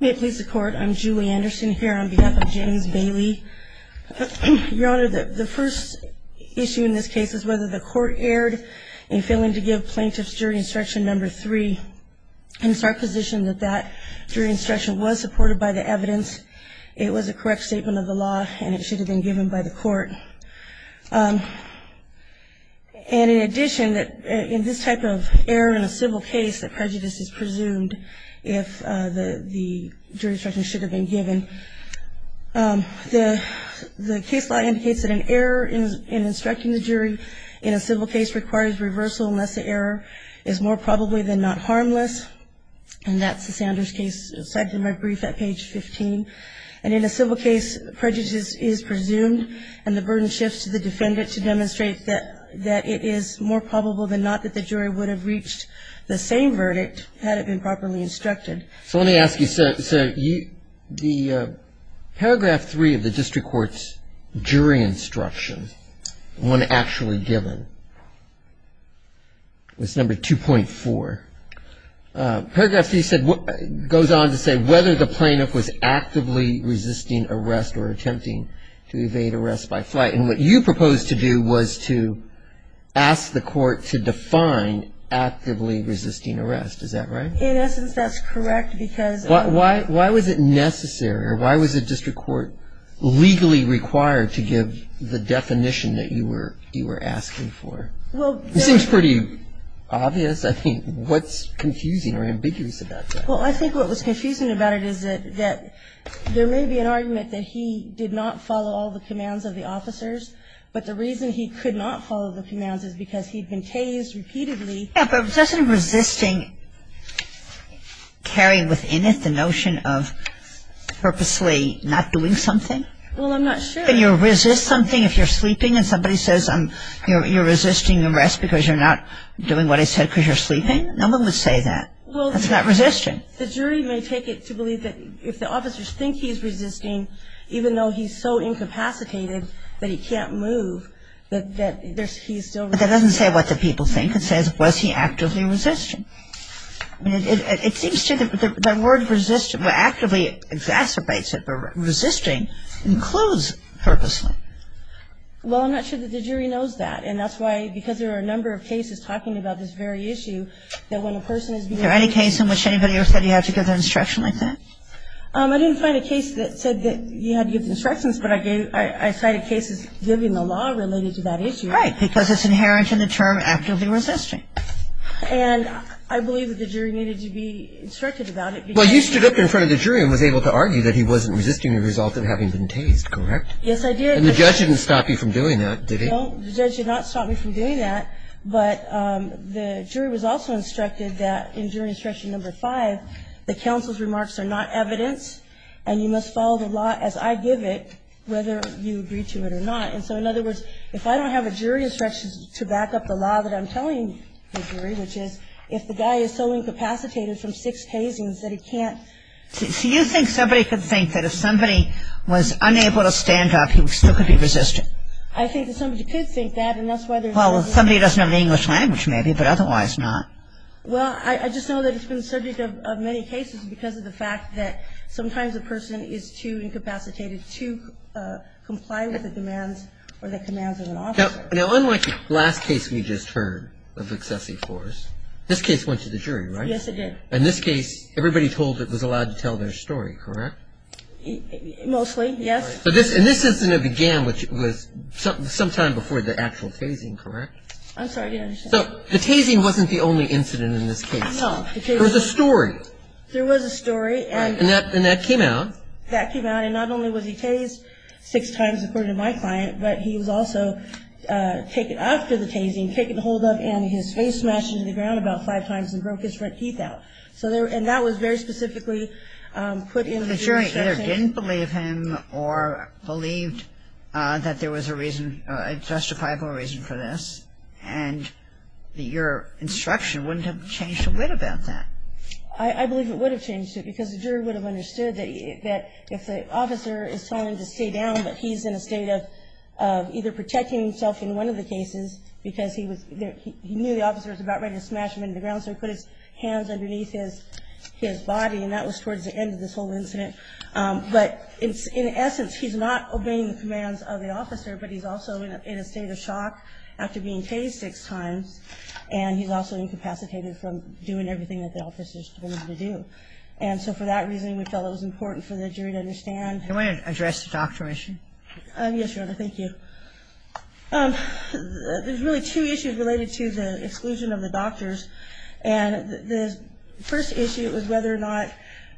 May it please the Court, I'm Julie Anderson here on behalf of James Bailey. Your Honor, the first issue in this case is whether the Court erred in failing to give plaintiffs jury instruction number 3. And it's our position that that jury instruction was supported by the evidence, it was a correct statement of the law, and it should have been given by the Court. And in addition, in this type of error in a civil case, the prejudice is presumed if the jury instruction should have been given. The case law indicates that an error in instructing the jury in a civil case requires reversal unless the error is more probably than not harmless. And that's the Sanders case cited in my brief at page 15. And in a civil case, prejudice is presumed and the burden shifts to the defendant to demonstrate that it is more probable than not that the jury would have reached the same verdict had it been properly instructed. So let me ask you, sir, the paragraph 3 of the district court's jury instruction, one actually given, was number 2.4. Paragraph 3 goes on to say whether the plaintiff was actively resisting arrest or attempting to evade arrest by flight. And what you proposed to do was to ask the Court to define actively resisting arrest, is that right? In essence, that's correct because Why was it necessary or why was the district court legally required to give the definition that you were asking for? It seems pretty obvious, I think. What's confusing or ambiguous about that? Well, I think what was confusing about it is that there may be an argument that he did not follow all the commands of the officers, but the reason he could not follow the commands is because he'd been tased repeatedly. Yeah, but doesn't resisting carry within it the notion of purposely not doing something? Well, I'm not sure. I mean, can you resist something if you're sleeping and somebody says you're resisting arrest because you're not doing what I said because you're sleeping? No one would say that. That's not resisting. Well, the jury may take it to believe that if the officers think he's resisting, even though he's so incapacitated that he can't move, that he's still resisting. But that doesn't say what the people think. It says, was he actively resisting? I mean, it seems to me that the word actively exacerbates it, but resisting includes purposely. Well, I'm not sure that the jury knows that, and that's why because there are a number of cases talking about this very issue that when a person is being arrested Is there any case in which anybody ever said you had to give the instruction like that? I didn't find a case that said that you had to give the instructions, but I cited cases giving the law related to that issue. Right, because it's inherent in the term actively resisting. Right. And I believe that the jury needed to be instructed about it because Well, you stood up in front of the jury and was able to argue that he wasn't resisting as a result of having been tased, correct? Yes, I did. And the judge didn't stop you from doing that, did he? No, the judge did not stop me from doing that, but the jury was also instructed that in jury instruction number five, the counsel's remarks are not evidence and you must follow the law as I give it, whether you agree to it or not. And so in other words, if I don't have a jury instruction to back up the law that I'm telling the jury, which is if the guy is so incapacitated from six tasings that he can't So you think somebody could think that if somebody was unable to stand up, he still could be resisting? I think that somebody could think that, and that's why there's Well, if somebody doesn't have an English language, maybe, but otherwise not. Well, I just know that it's been the subject of many cases because of the fact that Now, unlike the last case we just heard of excessive force, this case went to the jury, right? Yes, it did. In this case, everybody was allowed to tell their story, correct? Mostly, yes. And this incident began sometime before the actual tasing, correct? I'm sorry, I didn't understand. So the tasing wasn't the only incident in this case. No. There was a story. There was a story. And that came out. And not only was he tased six times, according to my client, but he was also taken after the tasing, taken hold of, and his face smashed into the ground about five times and broke his front teeth out. And that was very specifically put in the jury's instruction. The jury either didn't believe him or believed that there was a reason, a justifiable reason for this, and your instruction wouldn't have changed a bit about that. I believe it would have changed it, because the jury would have understood that if the officer is telling him to stay down but he's in a state of either protecting himself in one of the cases, because he knew the officer was about ready to smash him into the ground, so he put his hands underneath his body, and that was towards the end of this whole incident. But in essence, he's not obeying the commands of the officer, but he's also in a state of shock after being tased six times, and he's also incapacitated from doing everything that the officer is telling him to do. And so for that reason, we felt it was important for the jury to understand. Can I address the doctor issue? Yes, Your Honor. Thank you. There's really two issues related to the exclusion of the doctors, and the first issue is whether or not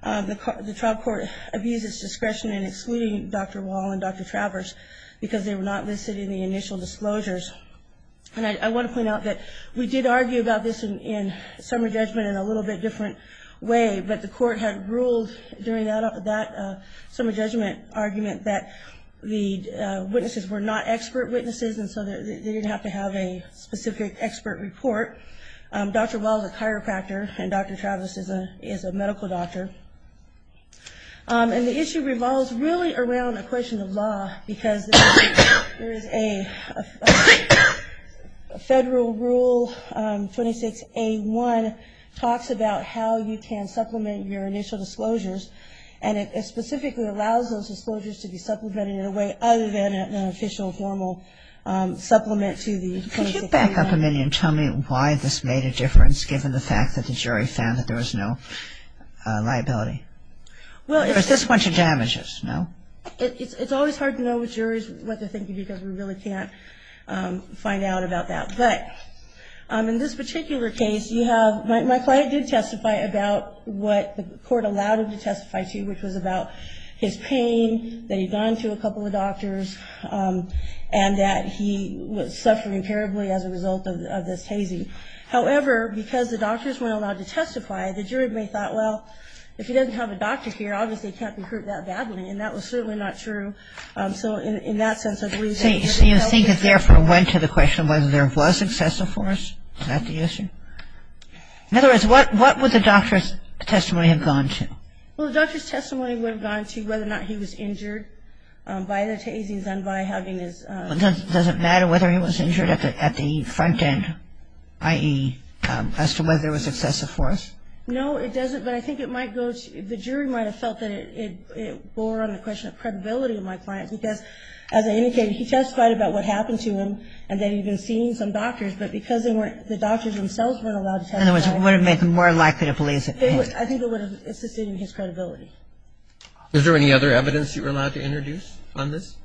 the trial court abused its discretion in excluding Dr. Wall and Dr. Travers because they were not listed in the initial disclosures. And I want to point out that we did argue about this in summer judgment in a little bit different way, but the court had ruled during that summer judgment argument that the witnesses were not expert witnesses, and so they didn't have to have a specific expert report. Dr. Wall is a chiropractor, and Dr. Travers is a medical doctor. And the issue revolves really around a question of law because there is a federal rule, 26A1, talks about how you can supplement your initial disclosures, and it specifically allows those disclosures to be supplemented in a way other than an official, formal supplement to the 26A1. Could you back up a minute and tell me why this made a difference, given the fact that the jury found that there was no liability? There was this bunch of damages, no? It's always hard to know what juries are thinking because we really can't find out about that. But in this particular case, you have my client did testify about what the court allowed him to testify to, which was about his pain, that he'd gone to a couple of doctors, and that he was suffering terribly as a result of this hazing. However, because the doctors weren't allowed to testify, the jury may have thought, well, if he doesn't have a doctor here, obviously he can't be hurt that badly, and that was certainly not true. So in that sense, I believe that he was helped. So you think it therefore went to the question of whether there was excessive force? Is that the issue? In other words, what would the doctor's testimony have gone to? Well, the doctor's testimony would have gone to whether or not he was injured by the hazings and by having his Doesn't matter whether he was injured at the front end, i.e., as to whether there was excessive force? No, it doesn't, but I think it might go to the jury might have felt that it bore on the question of credibility of my client because, as I indicated, he testified about what happened to him, and that he'd been seeing some doctors, but because the doctors themselves weren't allowed to testify. In other words, it would have made them more likely to believe that pain. I think it would have assisted in his credibility. Is there any other evidence you were allowed to introduce on this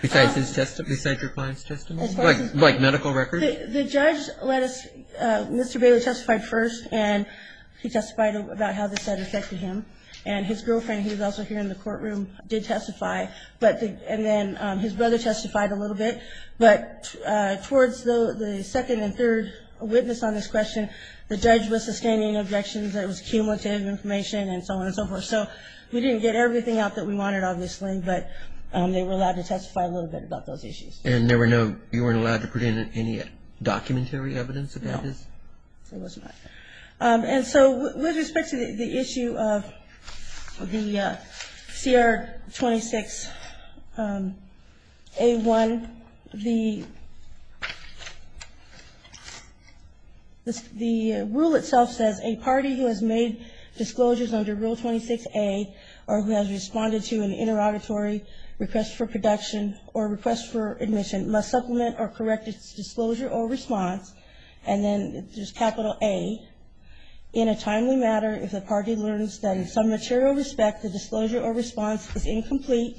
besides your client's testimony? Like medical records? The judge let us Mr. Bailey testified first, and he testified about how this had affected him. And his girlfriend, who was also here in the courtroom, did testify, and then his brother testified a little bit. But towards the second and third witness on this question, the judge was sustaining objections. It was cumulative information and so on and so forth. So we didn't get everything out that we wanted, obviously, but they were allowed to testify a little bit about those issues. And there were no ñ you weren't allowed to put in any documentary evidence about this? No, there was not. And so with respect to the issue of the CR 26A1, the rule itself says, a party who has made disclosures under Rule 26A or who has responded to an interrogatory request for production or request for admission must supplement or correct its disclosure or response, and then there's capital A, in a timely matter if the party learns that in some material respect the disclosure or response is incomplete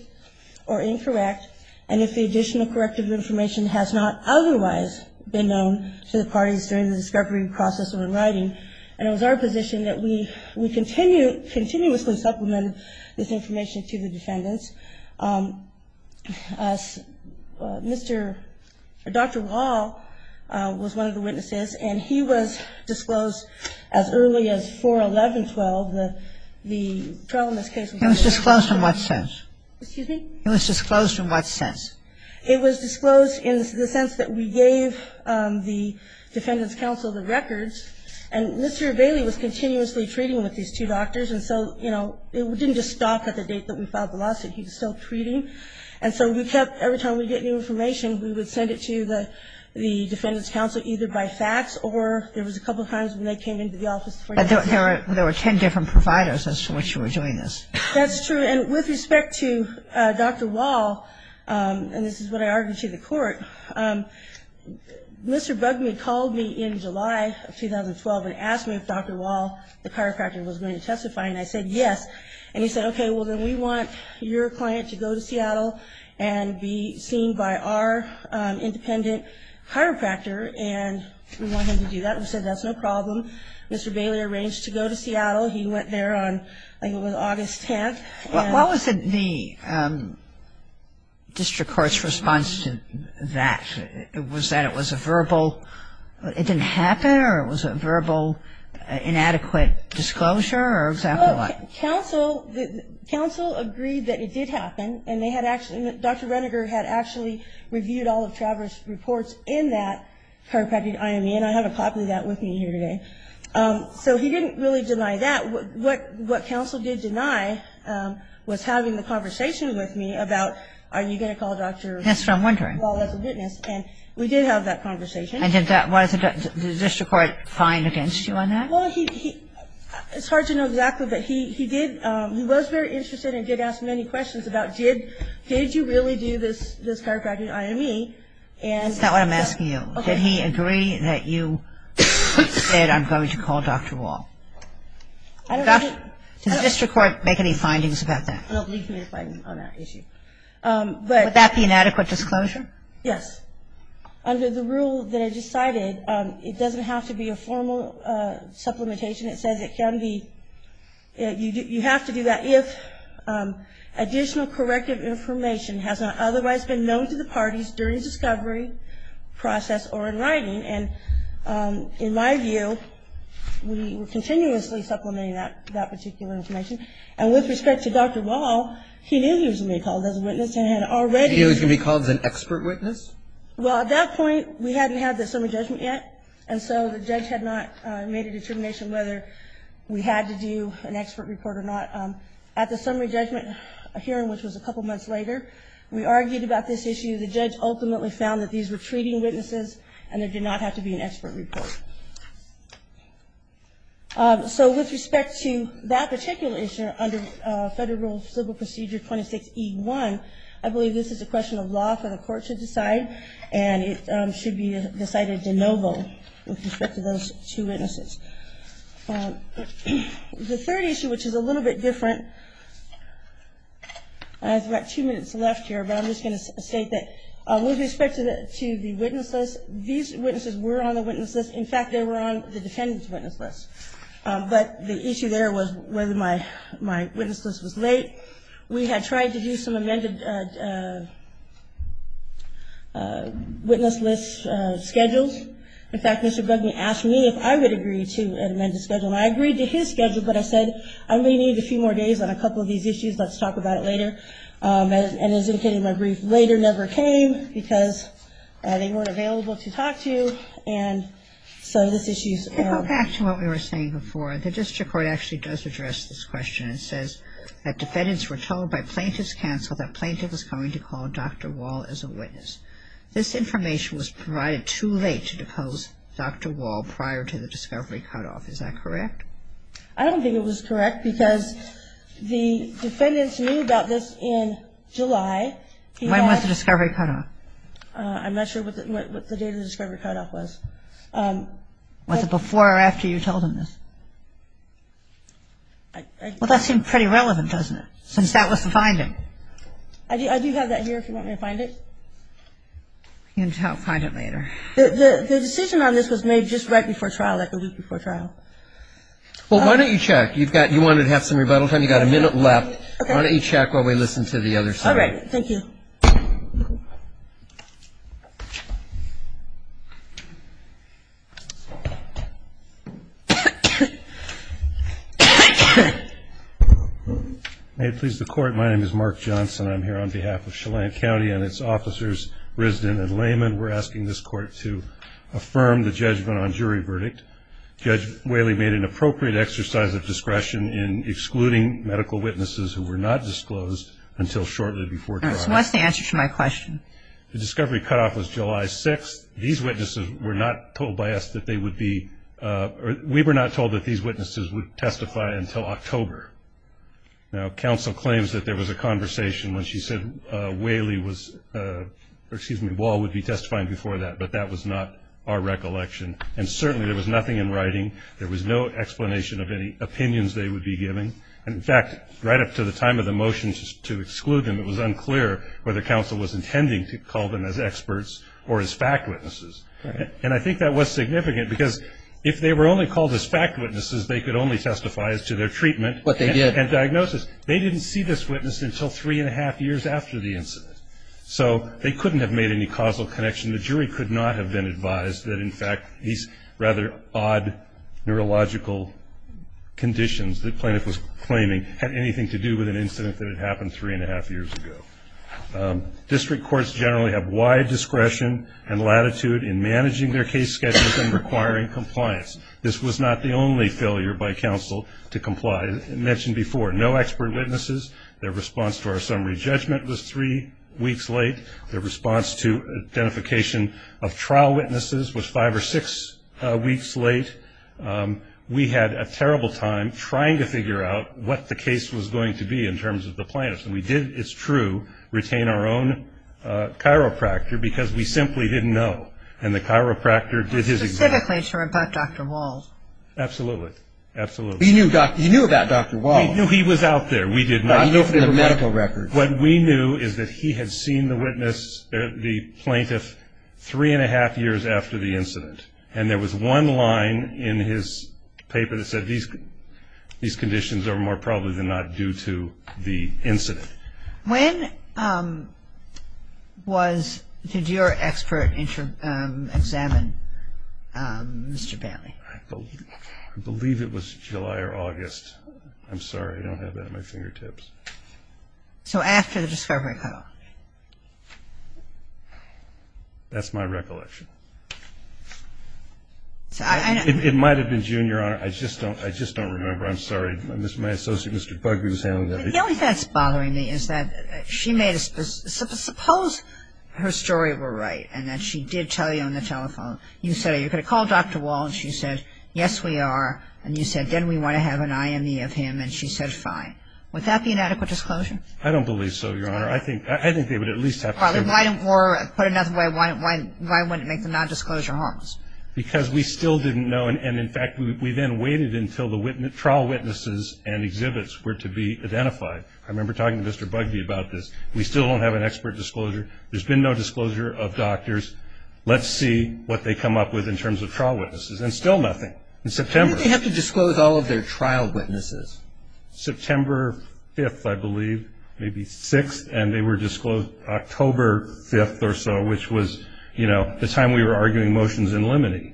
or incorrect, and if the additional corrective information has not otherwise been known to the parties during the discovery process or in writing. And it was our position that we continuously supplemented this information to the defendants. Mr. ñ Dr. Wall was one of the witnesses, and he was disclosed as early as 4-11-12. The trial in this case was ñ He was disclosed in what sense? Excuse me? He was disclosed in what sense? It was disclosed in the sense that we gave the defendants' counsel the records, and Mr. Bailey was continuously treating with these two doctors, and so, you know, it didn't just stop at the date that we filed the lawsuit. He was still treating. And so we kept ñ every time we'd get new information, we would send it to the defendants' counsel, either by fax or ñ there was a couple times when they came into the office. But there were ten different providers as to which you were doing this. That's true. And with respect to Dr. Wall, and this is what I argued to the court, Mr. Bugme called me in July of 2012 and asked me if Dr. Wall, the chiropractor, was going to testify, and I said yes. And he said, okay, well, then we want your client to go to Seattle and be seen by our independent chiropractor, and we want him to do that. We said that's no problem. Mr. Bailey arranged to go to Seattle. He went there on, I think it was August 10th, and ñ What was the district court's response to that? Was that it was a verbal ñ it didn't happen, or it was a verbal inadequate disclosure, or exactly what? Counsel agreed that it did happen, and they had actually ñ Dr. Reniger had actually reviewed all of Travers' reports in that chiropractic IME, and I have a copy of that with me here today. So he didn't really deny that. What counsel did deny was having the conversation with me about are you going to call Dr. ñ That's what I'm wondering. ñ Wall as a witness. And we did have that conversation. And did the district court find against you on that? Well, he ñ it's hard to know exactly, but he did ñ he was very interested and did ask many questions about did you really do this chiropractic IME, and ñ That's not what I'm asking you. Okay. Did he agree that you said I'm going to call Dr. Wall? I don't think ñ Does the district court make any findings about that? I don't believe he made a finding on that issue. But ñ Would that be inadequate disclosure? Yes. Under the rule that I just cited, it doesn't have to be a formal supplementation. It says it can be ñ you have to do that if additional corrective information has not otherwise been known to the parties during the discovery process or in writing. And in my view, we were continuously supplementing that particular information. And with respect to Dr. Wall, he knew he was going to be called as a witness and had already ñ Well, at that point, we hadn't had the summary judgment yet, and so the judge had not made a determination whether we had to do an expert report or not. At the summary judgment hearing, which was a couple months later, we argued about this issue. The judge ultimately found that these were treating witnesses, and there did not have to be an expert report. So with respect to that particular issue under Federal Civil Procedure 26E1, I believe this is a question of law for the court to decide, and it should be decided de novo with respect to those two witnesses. The third issue, which is a little bit different ñ I've got two minutes left here, but I'm just going to state that with respect to the witness list, these witnesses were on the witness list. In fact, they were on the defendant's witness list. But the issue there was whether my witness list was late. We had tried to do some amended witness list schedules. In fact, Mr. Bugney asked me if I would agree to an amended schedule, and I agreed to his schedule, but I said I'm going to need a few more days on a couple of these issues. Let's talk about it later. And as indicated in my brief, later never came because they weren't available to talk to, and so this issue is ñ So back to what we were saying before. The district court actually does address this question. It says that defendants were told by plaintiff's counsel that plaintiff was going to call Dr. Wall as a witness. This information was provided too late to depose Dr. Wall prior to the discovery cutoff. Is that correct? I don't think it was correct because the defendants knew about this in July. When was the discovery cutoff? I'm not sure what the date of the discovery cutoff was. Was it before or after you told them this? Well, that seemed pretty relevant, doesn't it, since that was the finding. I do have that here if you want me to find it. You can find it later. The decision on this was made just right before trial, like a week before trial. Well, why don't you check? You wanted to have some rebuttal time. You've got a minute left. Why don't you check while we listen to the other side? All right. Thank you. May it please the Court, my name is Mark Johnson. I'm here on behalf of Chelan County and its officers, Risdin and Lehman. We're asking this Court to affirm the judgment on jury verdict. Judge Whaley made an appropriate exercise of discretion in excluding medical witnesses who were not disclosed until shortly before trial. So what's the answer to my question? The discovery cutoff was July 6th. These witnesses were not told by us that they would be or we were not told that these witnesses would testify until October. Now, counsel claims that there was a conversation when she said Whaley was or excuse me, Wall would be testifying before that, but that was not our recollection. And certainly there was nothing in writing. There was no explanation of any opinions they would be giving. In fact, right up to the time of the motion to exclude them, it was unclear whether counsel was intending to call them as experts or as fact witnesses. And I think that was significant because if they were only called as fact witnesses, they could only testify as to their treatment and diagnosis. They didn't see this witness until three and a half years after the incident. So they couldn't have made any causal connection. The jury could not have been advised that, in fact, these rather odd neurological conditions the plaintiff was claiming had anything to do with an incident that had happened three and a half years ago. District courts generally have wide discretion and latitude in managing their case schedules and requiring compliance. This was not the only failure by counsel to comply. I mentioned before, no expert witnesses. Their response to our summary judgment was three weeks late. Their response to identification of trial witnesses was five or six weeks late. We had a terrible time trying to figure out what the case was going to be in terms of the plaintiffs. And we did, it's true, retain our own chiropractor because we simply didn't know. And the chiropractor did his job. Specifically to report Dr. Walsh. Absolutely. Absolutely. You knew about Dr. Walsh. We knew he was out there. We did not know. You knew from the medical records. What we knew is that he had seen the witness, the plaintiff, three and a half years after the incident. And there was one line in his paper that said, these conditions are more probable than not due to the incident. When was, did your expert examine Mr. Bailey? I believe it was July or August. I'm sorry, I don't have that at my fingertips. So after the discovery cutoff. That's my recollection. It might have been June, Your Honor. I just don't remember. I'm sorry. My associate, Mr. Bugby, was handling that. The only thing that's bothering me is that she made a, suppose her story were right and that she did tell you on the telephone. You could have called Dr. Walsh and she said, yes, we are. And you said, then we want to have an IME of him. And she said, fine. Would that be an adequate disclosure? I don't believe so, Your Honor. I think they would at least have to say that. Or put another way, why wouldn't it make the nondisclosure harms? Because we still didn't know. And, in fact, we then waited until the trial witnesses and exhibits were to be identified. I remember talking to Mr. Bugby about this. We still don't have an expert disclosure. There's been no disclosure of doctors. Let's see what they come up with in terms of trial witnesses. And still nothing. In September. When did they have to disclose all of their trial witnesses? September 5th, I believe. Maybe 6th. And they were disclosed October 5th or so, which was, you know, the time we were arguing motions in limine.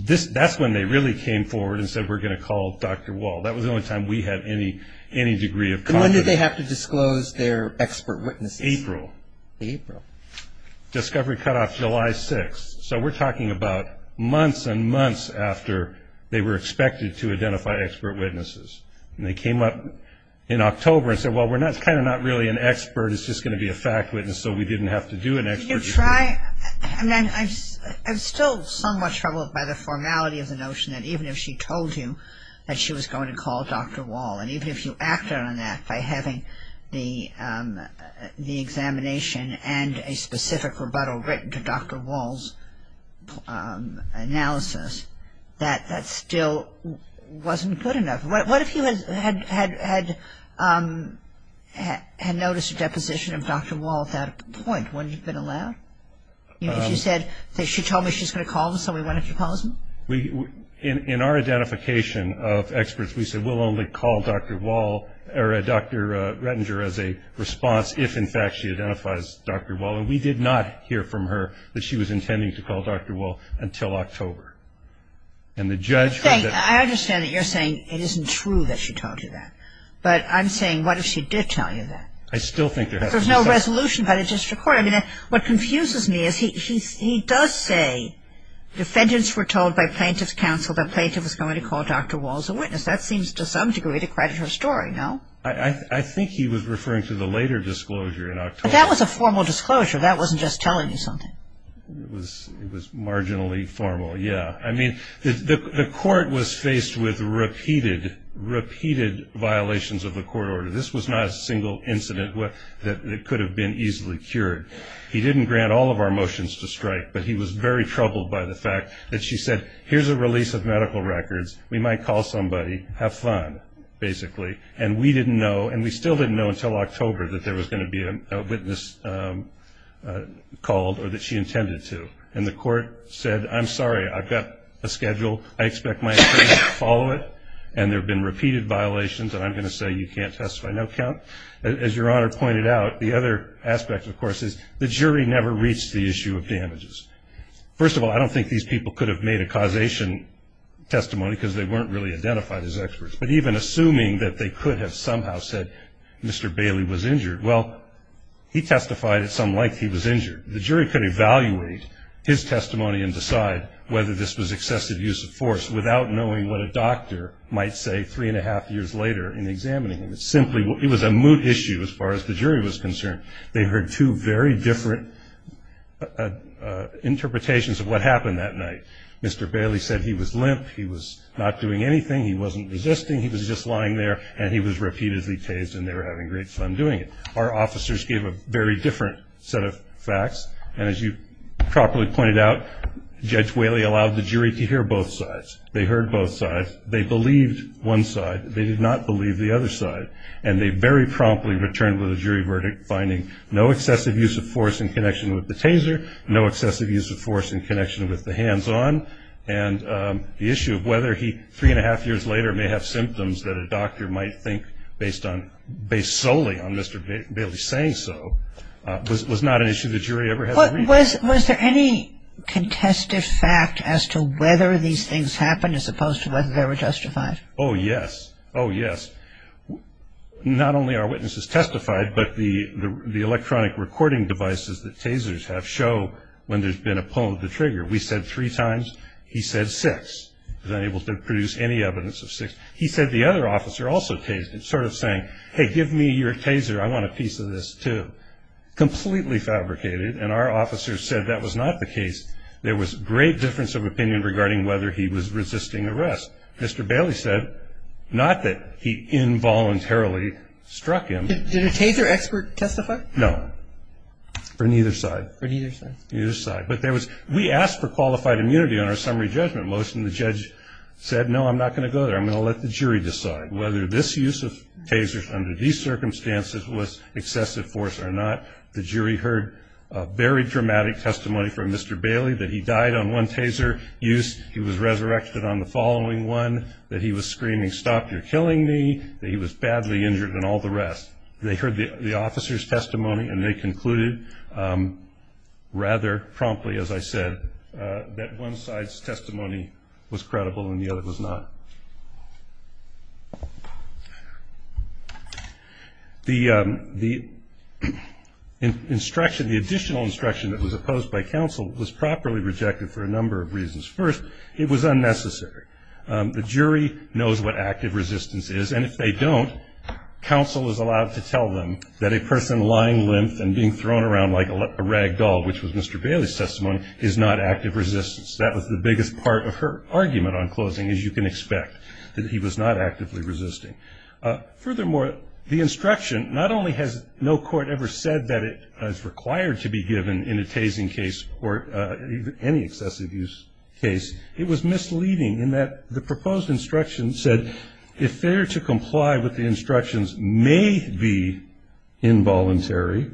That's when they really came forward and said, we're going to call Dr. Walsh. That was the only time we had any degree of confidence. And when did they have to disclose their expert witnesses? April. April. Discovery cut off July 6th. So we're talking about months and months after they were expected to identify expert witnesses. And they came up in October and said, well, we're kind of not really an expert. It's just going to be a fact witness, so we didn't have to do an expert disclosure. I'm still somewhat troubled by the formality of the notion that even if she told you that she was going to call Dr. Walsh, and even if you acted on that by having the examination and a specific rebuttal written to Dr. Walsh's analysis, that that still wasn't good enough. What if you had noticed a deposition of Dr. Walsh at that point? Wouldn't you have been allowed? You know, if you said, she told me she's going to call me, so why don't you call me? In our identification of experts, we said we'll only call Dr. Walsh or Dr. Rettinger as a response if, in fact, she identifies Dr. Walsh. And we did not hear from her that she was intending to call Dr. Walsh until October. And the judge said that. I understand that you're saying it isn't true that she told you that. But I'm saying, what if she did tell you that? I still think there has to be some. There's no resolution by the district court. I mean, what confuses me is he does say defendants were told by plaintiff's counsel that the plaintiff was going to call Dr. Walsh a witness. That seems to some degree to credit her story, no? I think he was referring to the later disclosure in October. But that was a formal disclosure. That wasn't just telling you something. It was marginally formal, yeah. I mean, the court was faced with repeated, repeated violations of the court order. This was not a single incident that could have been easily cured. He didn't grant all of our motions to strike, but he was very troubled by the fact that she said, here's a release of medical records. We might call somebody, have fun, basically. And we didn't know, and we still didn't know until October, that there was going to be a witness called or that she intended to. And the court said, I'm sorry, I've got a schedule. I expect my attorneys to follow it. And there have been repeated violations, and I'm going to say you can't testify. No count. As Your Honor pointed out, the other aspect, of course, is the jury never reached the issue of damages. First of all, I don't think these people could have made a causation testimony because they weren't really identified as experts. But even assuming that they could have somehow said Mr. Bailey was injured, well, he testified at some length he was injured. The jury could evaluate his testimony and decide whether this was excessive use of force without knowing what a doctor might say three and a half years later in examining him. It was a moot issue as far as the jury was concerned. They heard two very different interpretations of what happened that night. Mr. Bailey said he was limp. He was not doing anything. He wasn't resisting. He was just lying there, and he was repeatedly tased, and they were having great fun doing it. Our officers gave a very different set of facts. And as you properly pointed out, Judge Whaley allowed the jury to hear both sides. They heard both sides. They believed one side. They did not believe the other side. And they very promptly returned with a jury verdict finding no excessive use of force in connection with the taser, no excessive use of force in connection with the hands-on. And the issue of whether he, three and a half years later, may have symptoms that a doctor might think based solely on Mr. Bailey saying so, was not an issue the jury ever had to reach. Was there any contested fact as to whether these things happened as opposed to whether they were justified? Oh, yes. Oh, yes. Not only are witnesses testified, but the electronic recording devices that tasers have show when there's been a pull of the trigger. We said three times. He said six. He was unable to produce any evidence of six. He said the other officer also tased him, sort of saying, hey, give me your taser. I want a piece of this, too. Completely fabricated, and our officers said that was not the case. There was great difference of opinion regarding whether he was resisting arrest. Mr. Bailey said not that he involuntarily struck him. Did a taser expert testify? No. For neither side. For neither side. Neither side. But we asked for qualified immunity on our summary judgment motion. The judge said, no, I'm not going to go there. I'm going to let the jury decide whether this use of tasers under these circumstances was excessive force or not. The jury heard very dramatic testimony from Mr. Bailey that he died on one taser use. He was resurrected on the following one, that he was screaming, stop, you're killing me, that he was badly injured, and all the rest. They heard the officer's testimony, and they concluded rather promptly, as I said, that one side's testimony was credible and the other was not. The instruction, the additional instruction that was opposed by counsel, was properly rejected for a number of reasons. First, it was unnecessary. The jury knows what active resistance is. And if they don't, counsel is allowed to tell them that a person lying limp and being thrown around like a rag doll, which was Mr. Bailey's testimony, is not active resistance. That was the biggest part of her argument on closing, as you can expect, that he was not actively resisting. Furthermore, the instruction, not only has no court ever said that it is required to be given in a tasing case or any excessive use case, it was misleading in that the proposed instruction said, if there to comply with the instructions may be involuntary,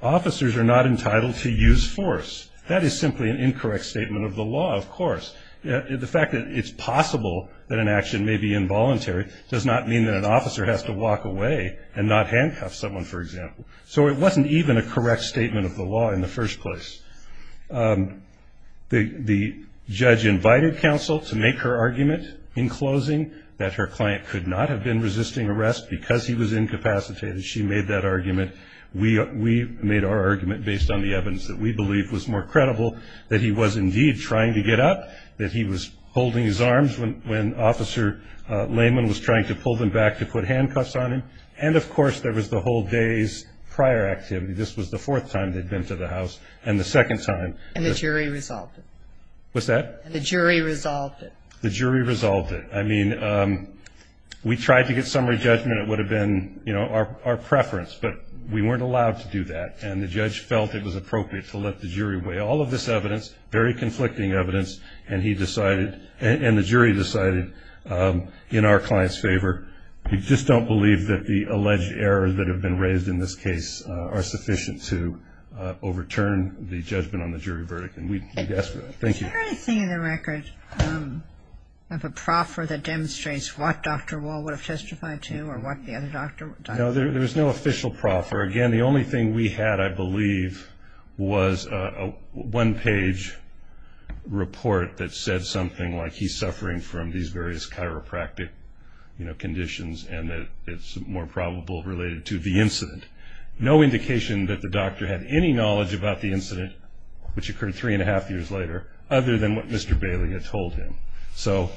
officers are not entitled to use force. That is simply an incorrect statement of the law, of course. The fact that it's possible that an action may be involuntary does not mean that an officer has to walk away and not handcuff someone, for example. So it wasn't even a correct statement of the law in the first place. The judge invited counsel to make her argument in closing that her client could not have been resisting arrest because he was incapacitated. She made that argument. We made our argument based on the evidence that we believe was more credible, that he was indeed trying to get up, that he was holding his arms when Officer Lehman was trying to pull them back to put handcuffs on him, and, of course, there was the whole day's prior activity. This was the fourth time they'd been to the house, and the second time. And the jury resolved it. What's that? And the jury resolved it. The jury resolved it. I mean, we tried to get summary judgment. It would have been, you know, our preference, but we weren't allowed to do that, and the judge felt it was appropriate to let the jury weigh all of this evidence, very conflicting evidence, and he decided, and the jury decided in our client's favor, we just don't believe that the alleged errors that have been raised in this case are sufficient to overturn the judgment on the jury verdict, and we'd ask for that. Thank you. Was there anything in the record of a proffer that demonstrates what Dr. Wall would have testified to or what the other doctor would have testified to? No, there was no official proffer. Again, the only thing we had, I believe, was a one-page report that said something like, he's suffering from these various chiropractic conditions and that it's more probable related to the incident. No indication that the doctor had any knowledge about the incident, which occurred three and a half years later, other than what Mr. Bailey had told him. So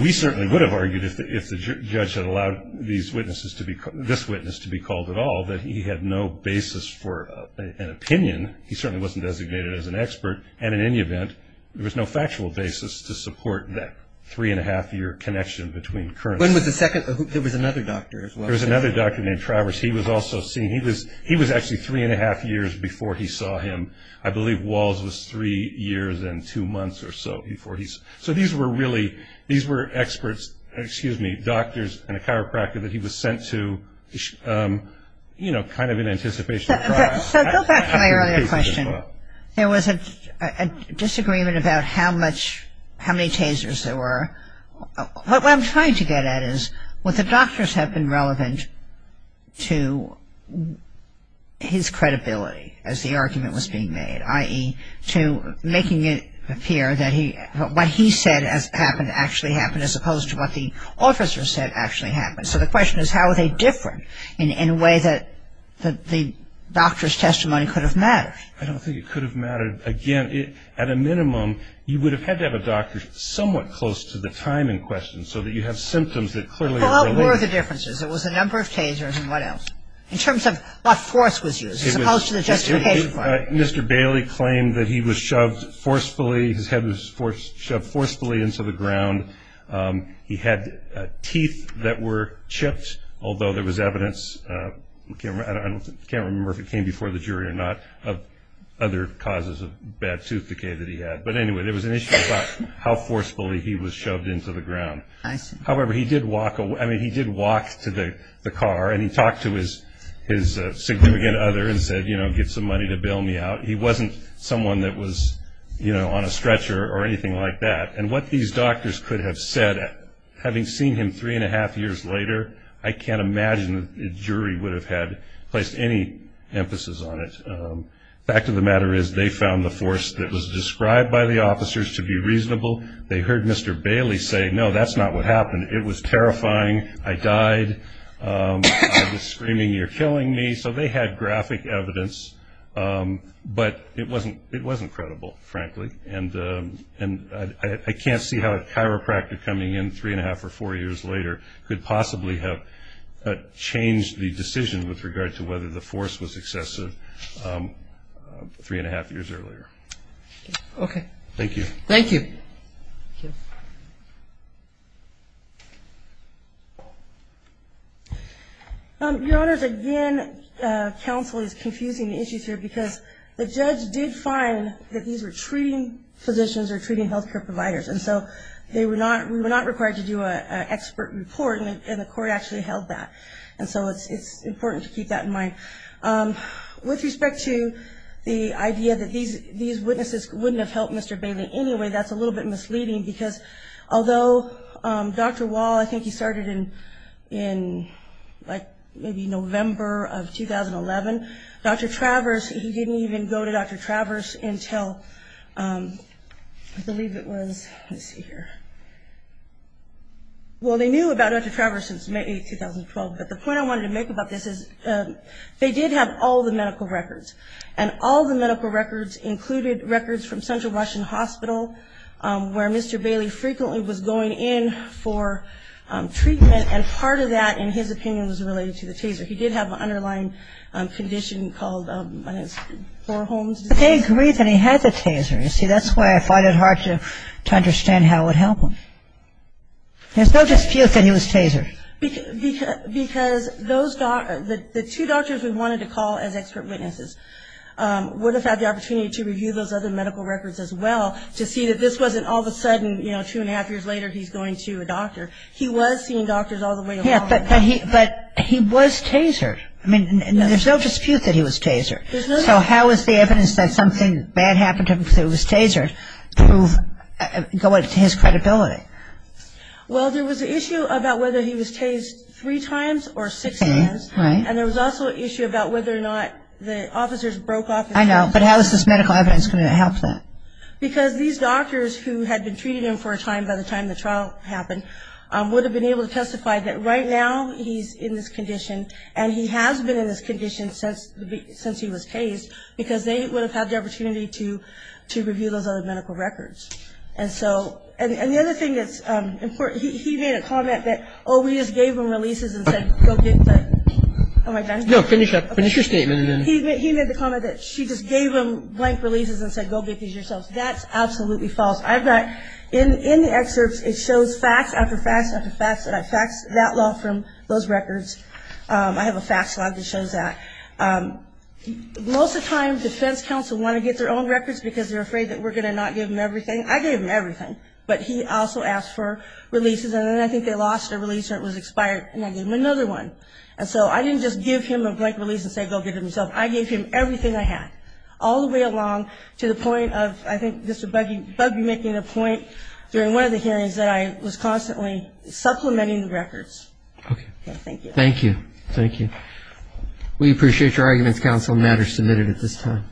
we certainly would have argued, if the judge had allowed this witness to be called at all, that he had no basis for an opinion. He certainly wasn't designated as an expert, and in any event, there was no factual basis to support that three and a half year connection between current When was the second? There was another doctor as well. There was another doctor named Travers. He was also seen. He was actually three and a half years before he saw him. I believe Walls was three years and two months or so before he saw him. So these were really, these were experts, excuse me, doctors and a chiropractor that he was sent to, you know, kind of in anticipation of trial. So go back to my earlier question. There was a disagreement about how much, how many tasers there were. What I'm trying to get at is, Well, the doctors have been relevant to his credibility as the argument was being made, i.e., to making it appear that what he said happened actually happened, as opposed to what the officer said actually happened. So the question is, how are they different in a way that the doctor's testimony could have mattered? I don't think it could have mattered. Again, at a minimum, you would have had to have a doctor somewhat close to the time in question so that you have symptoms that clearly are related. What were the differences? There was a number of tasers and what else? In terms of what force was used as opposed to the justification for it. Mr. Bailey claimed that he was shoved forcefully, his head was shoved forcefully into the ground. He had teeth that were chipped, although there was evidence, I can't remember if it came before the jury or not, of other causes of bad tooth decay that he had. But anyway, there was an issue about how forcefully he was shoved into the ground. However, he did walk to the car and he talked to his significant other and said, you know, get some money to bail me out. He wasn't someone that was, you know, on a stretcher or anything like that. And what these doctors could have said, having seen him three and a half years later, I can't imagine the jury would have placed any emphasis on it. The fact of the matter is they found the force that was described by the officers to be reasonable. They heard Mr. Bailey say, no, that's not what happened. It was terrifying. I died. I was screaming, you're killing me. So they had graphic evidence. But it wasn't credible, frankly. And I can't see how a chiropractor coming in three and a half or four years later could possibly have changed the decision with regard to whether the force was excessive three and a half years earlier. Okay. Thank you. Thank you. Your Honors, again, counsel is confusing the issues here because the judge did find that these were treating physicians or treating health care providers. And so we were not required to do an expert report, and the court actually held that. And so it's important to keep that in mind. With respect to the idea that these witnesses wouldn't have helped Mr. Bailey anyway, that's a little bit misleading because although Dr. Wall, I think he started in like maybe November of 2011, Dr. Travers, he didn't even go to Dr. Travers until I believe it was, let's see here. Well, they knew about Dr. Travers since May 8, 2012. But the point I wanted to make about this is they did have all the medical records. And all the medical records included records from Central Russian Hospital, where Mr. Bailey frequently was going in for treatment. And part of that, in his opinion, was related to the taser. He did have an underlying condition called, I guess, Bohrholm's disease. But they agreed that he had the taser. You see, that's why I fought it hard to understand how it would help him. There's no dispute that he was tasered. Because those doctors, the two doctors we wanted to call as expert witnesses, would have had the opportunity to review those other medical records as well to see that this wasn't all of a sudden, you know, two and a half years later he's going to a doctor. He was seeing doctors all the way along. Yeah, but he was tasered. I mean, there's no dispute that he was tasered. So how is the evidence that something bad happened to him because he was tasered going to his credibility? Well, there was an issue about whether he was tased three times or six times. And there was also an issue about whether or not the officers broke off. I know, but how is this medical evidence going to help that? Because these doctors who had been treating him for a time by the time the trial happened would have been able to testify that right now he's in this condition and he has been in this condition since he was tased because they would have had the opportunity to review those other medical records. And so, and the other thing that's important, he made a comment that, oh, we just gave him releases and said go get them. No, finish up, finish your statement. He made the comment that she just gave him blank releases and said go get these yourselves. That's absolutely false. I've got, in the excerpts, it shows fact after fact after fact that I faxed that law from those records. I have a fact slide that shows that. Most of the time defense counsel want to get their own records because they're afraid that we're going to not give them everything. I gave them everything. But he also asked for releases, and then I think they lost a release or it was expired, and I gave him another one. And so I didn't just give him a blank release and say go get it yourself. I gave him everything I had all the way along to the point of, I think, Mr. Bugbee making a point during one of the hearings that I was constantly supplementing the records. Okay. Thank you. Thank you. Thank you. We appreciate your arguments, counsel. The matter is submitted at this time.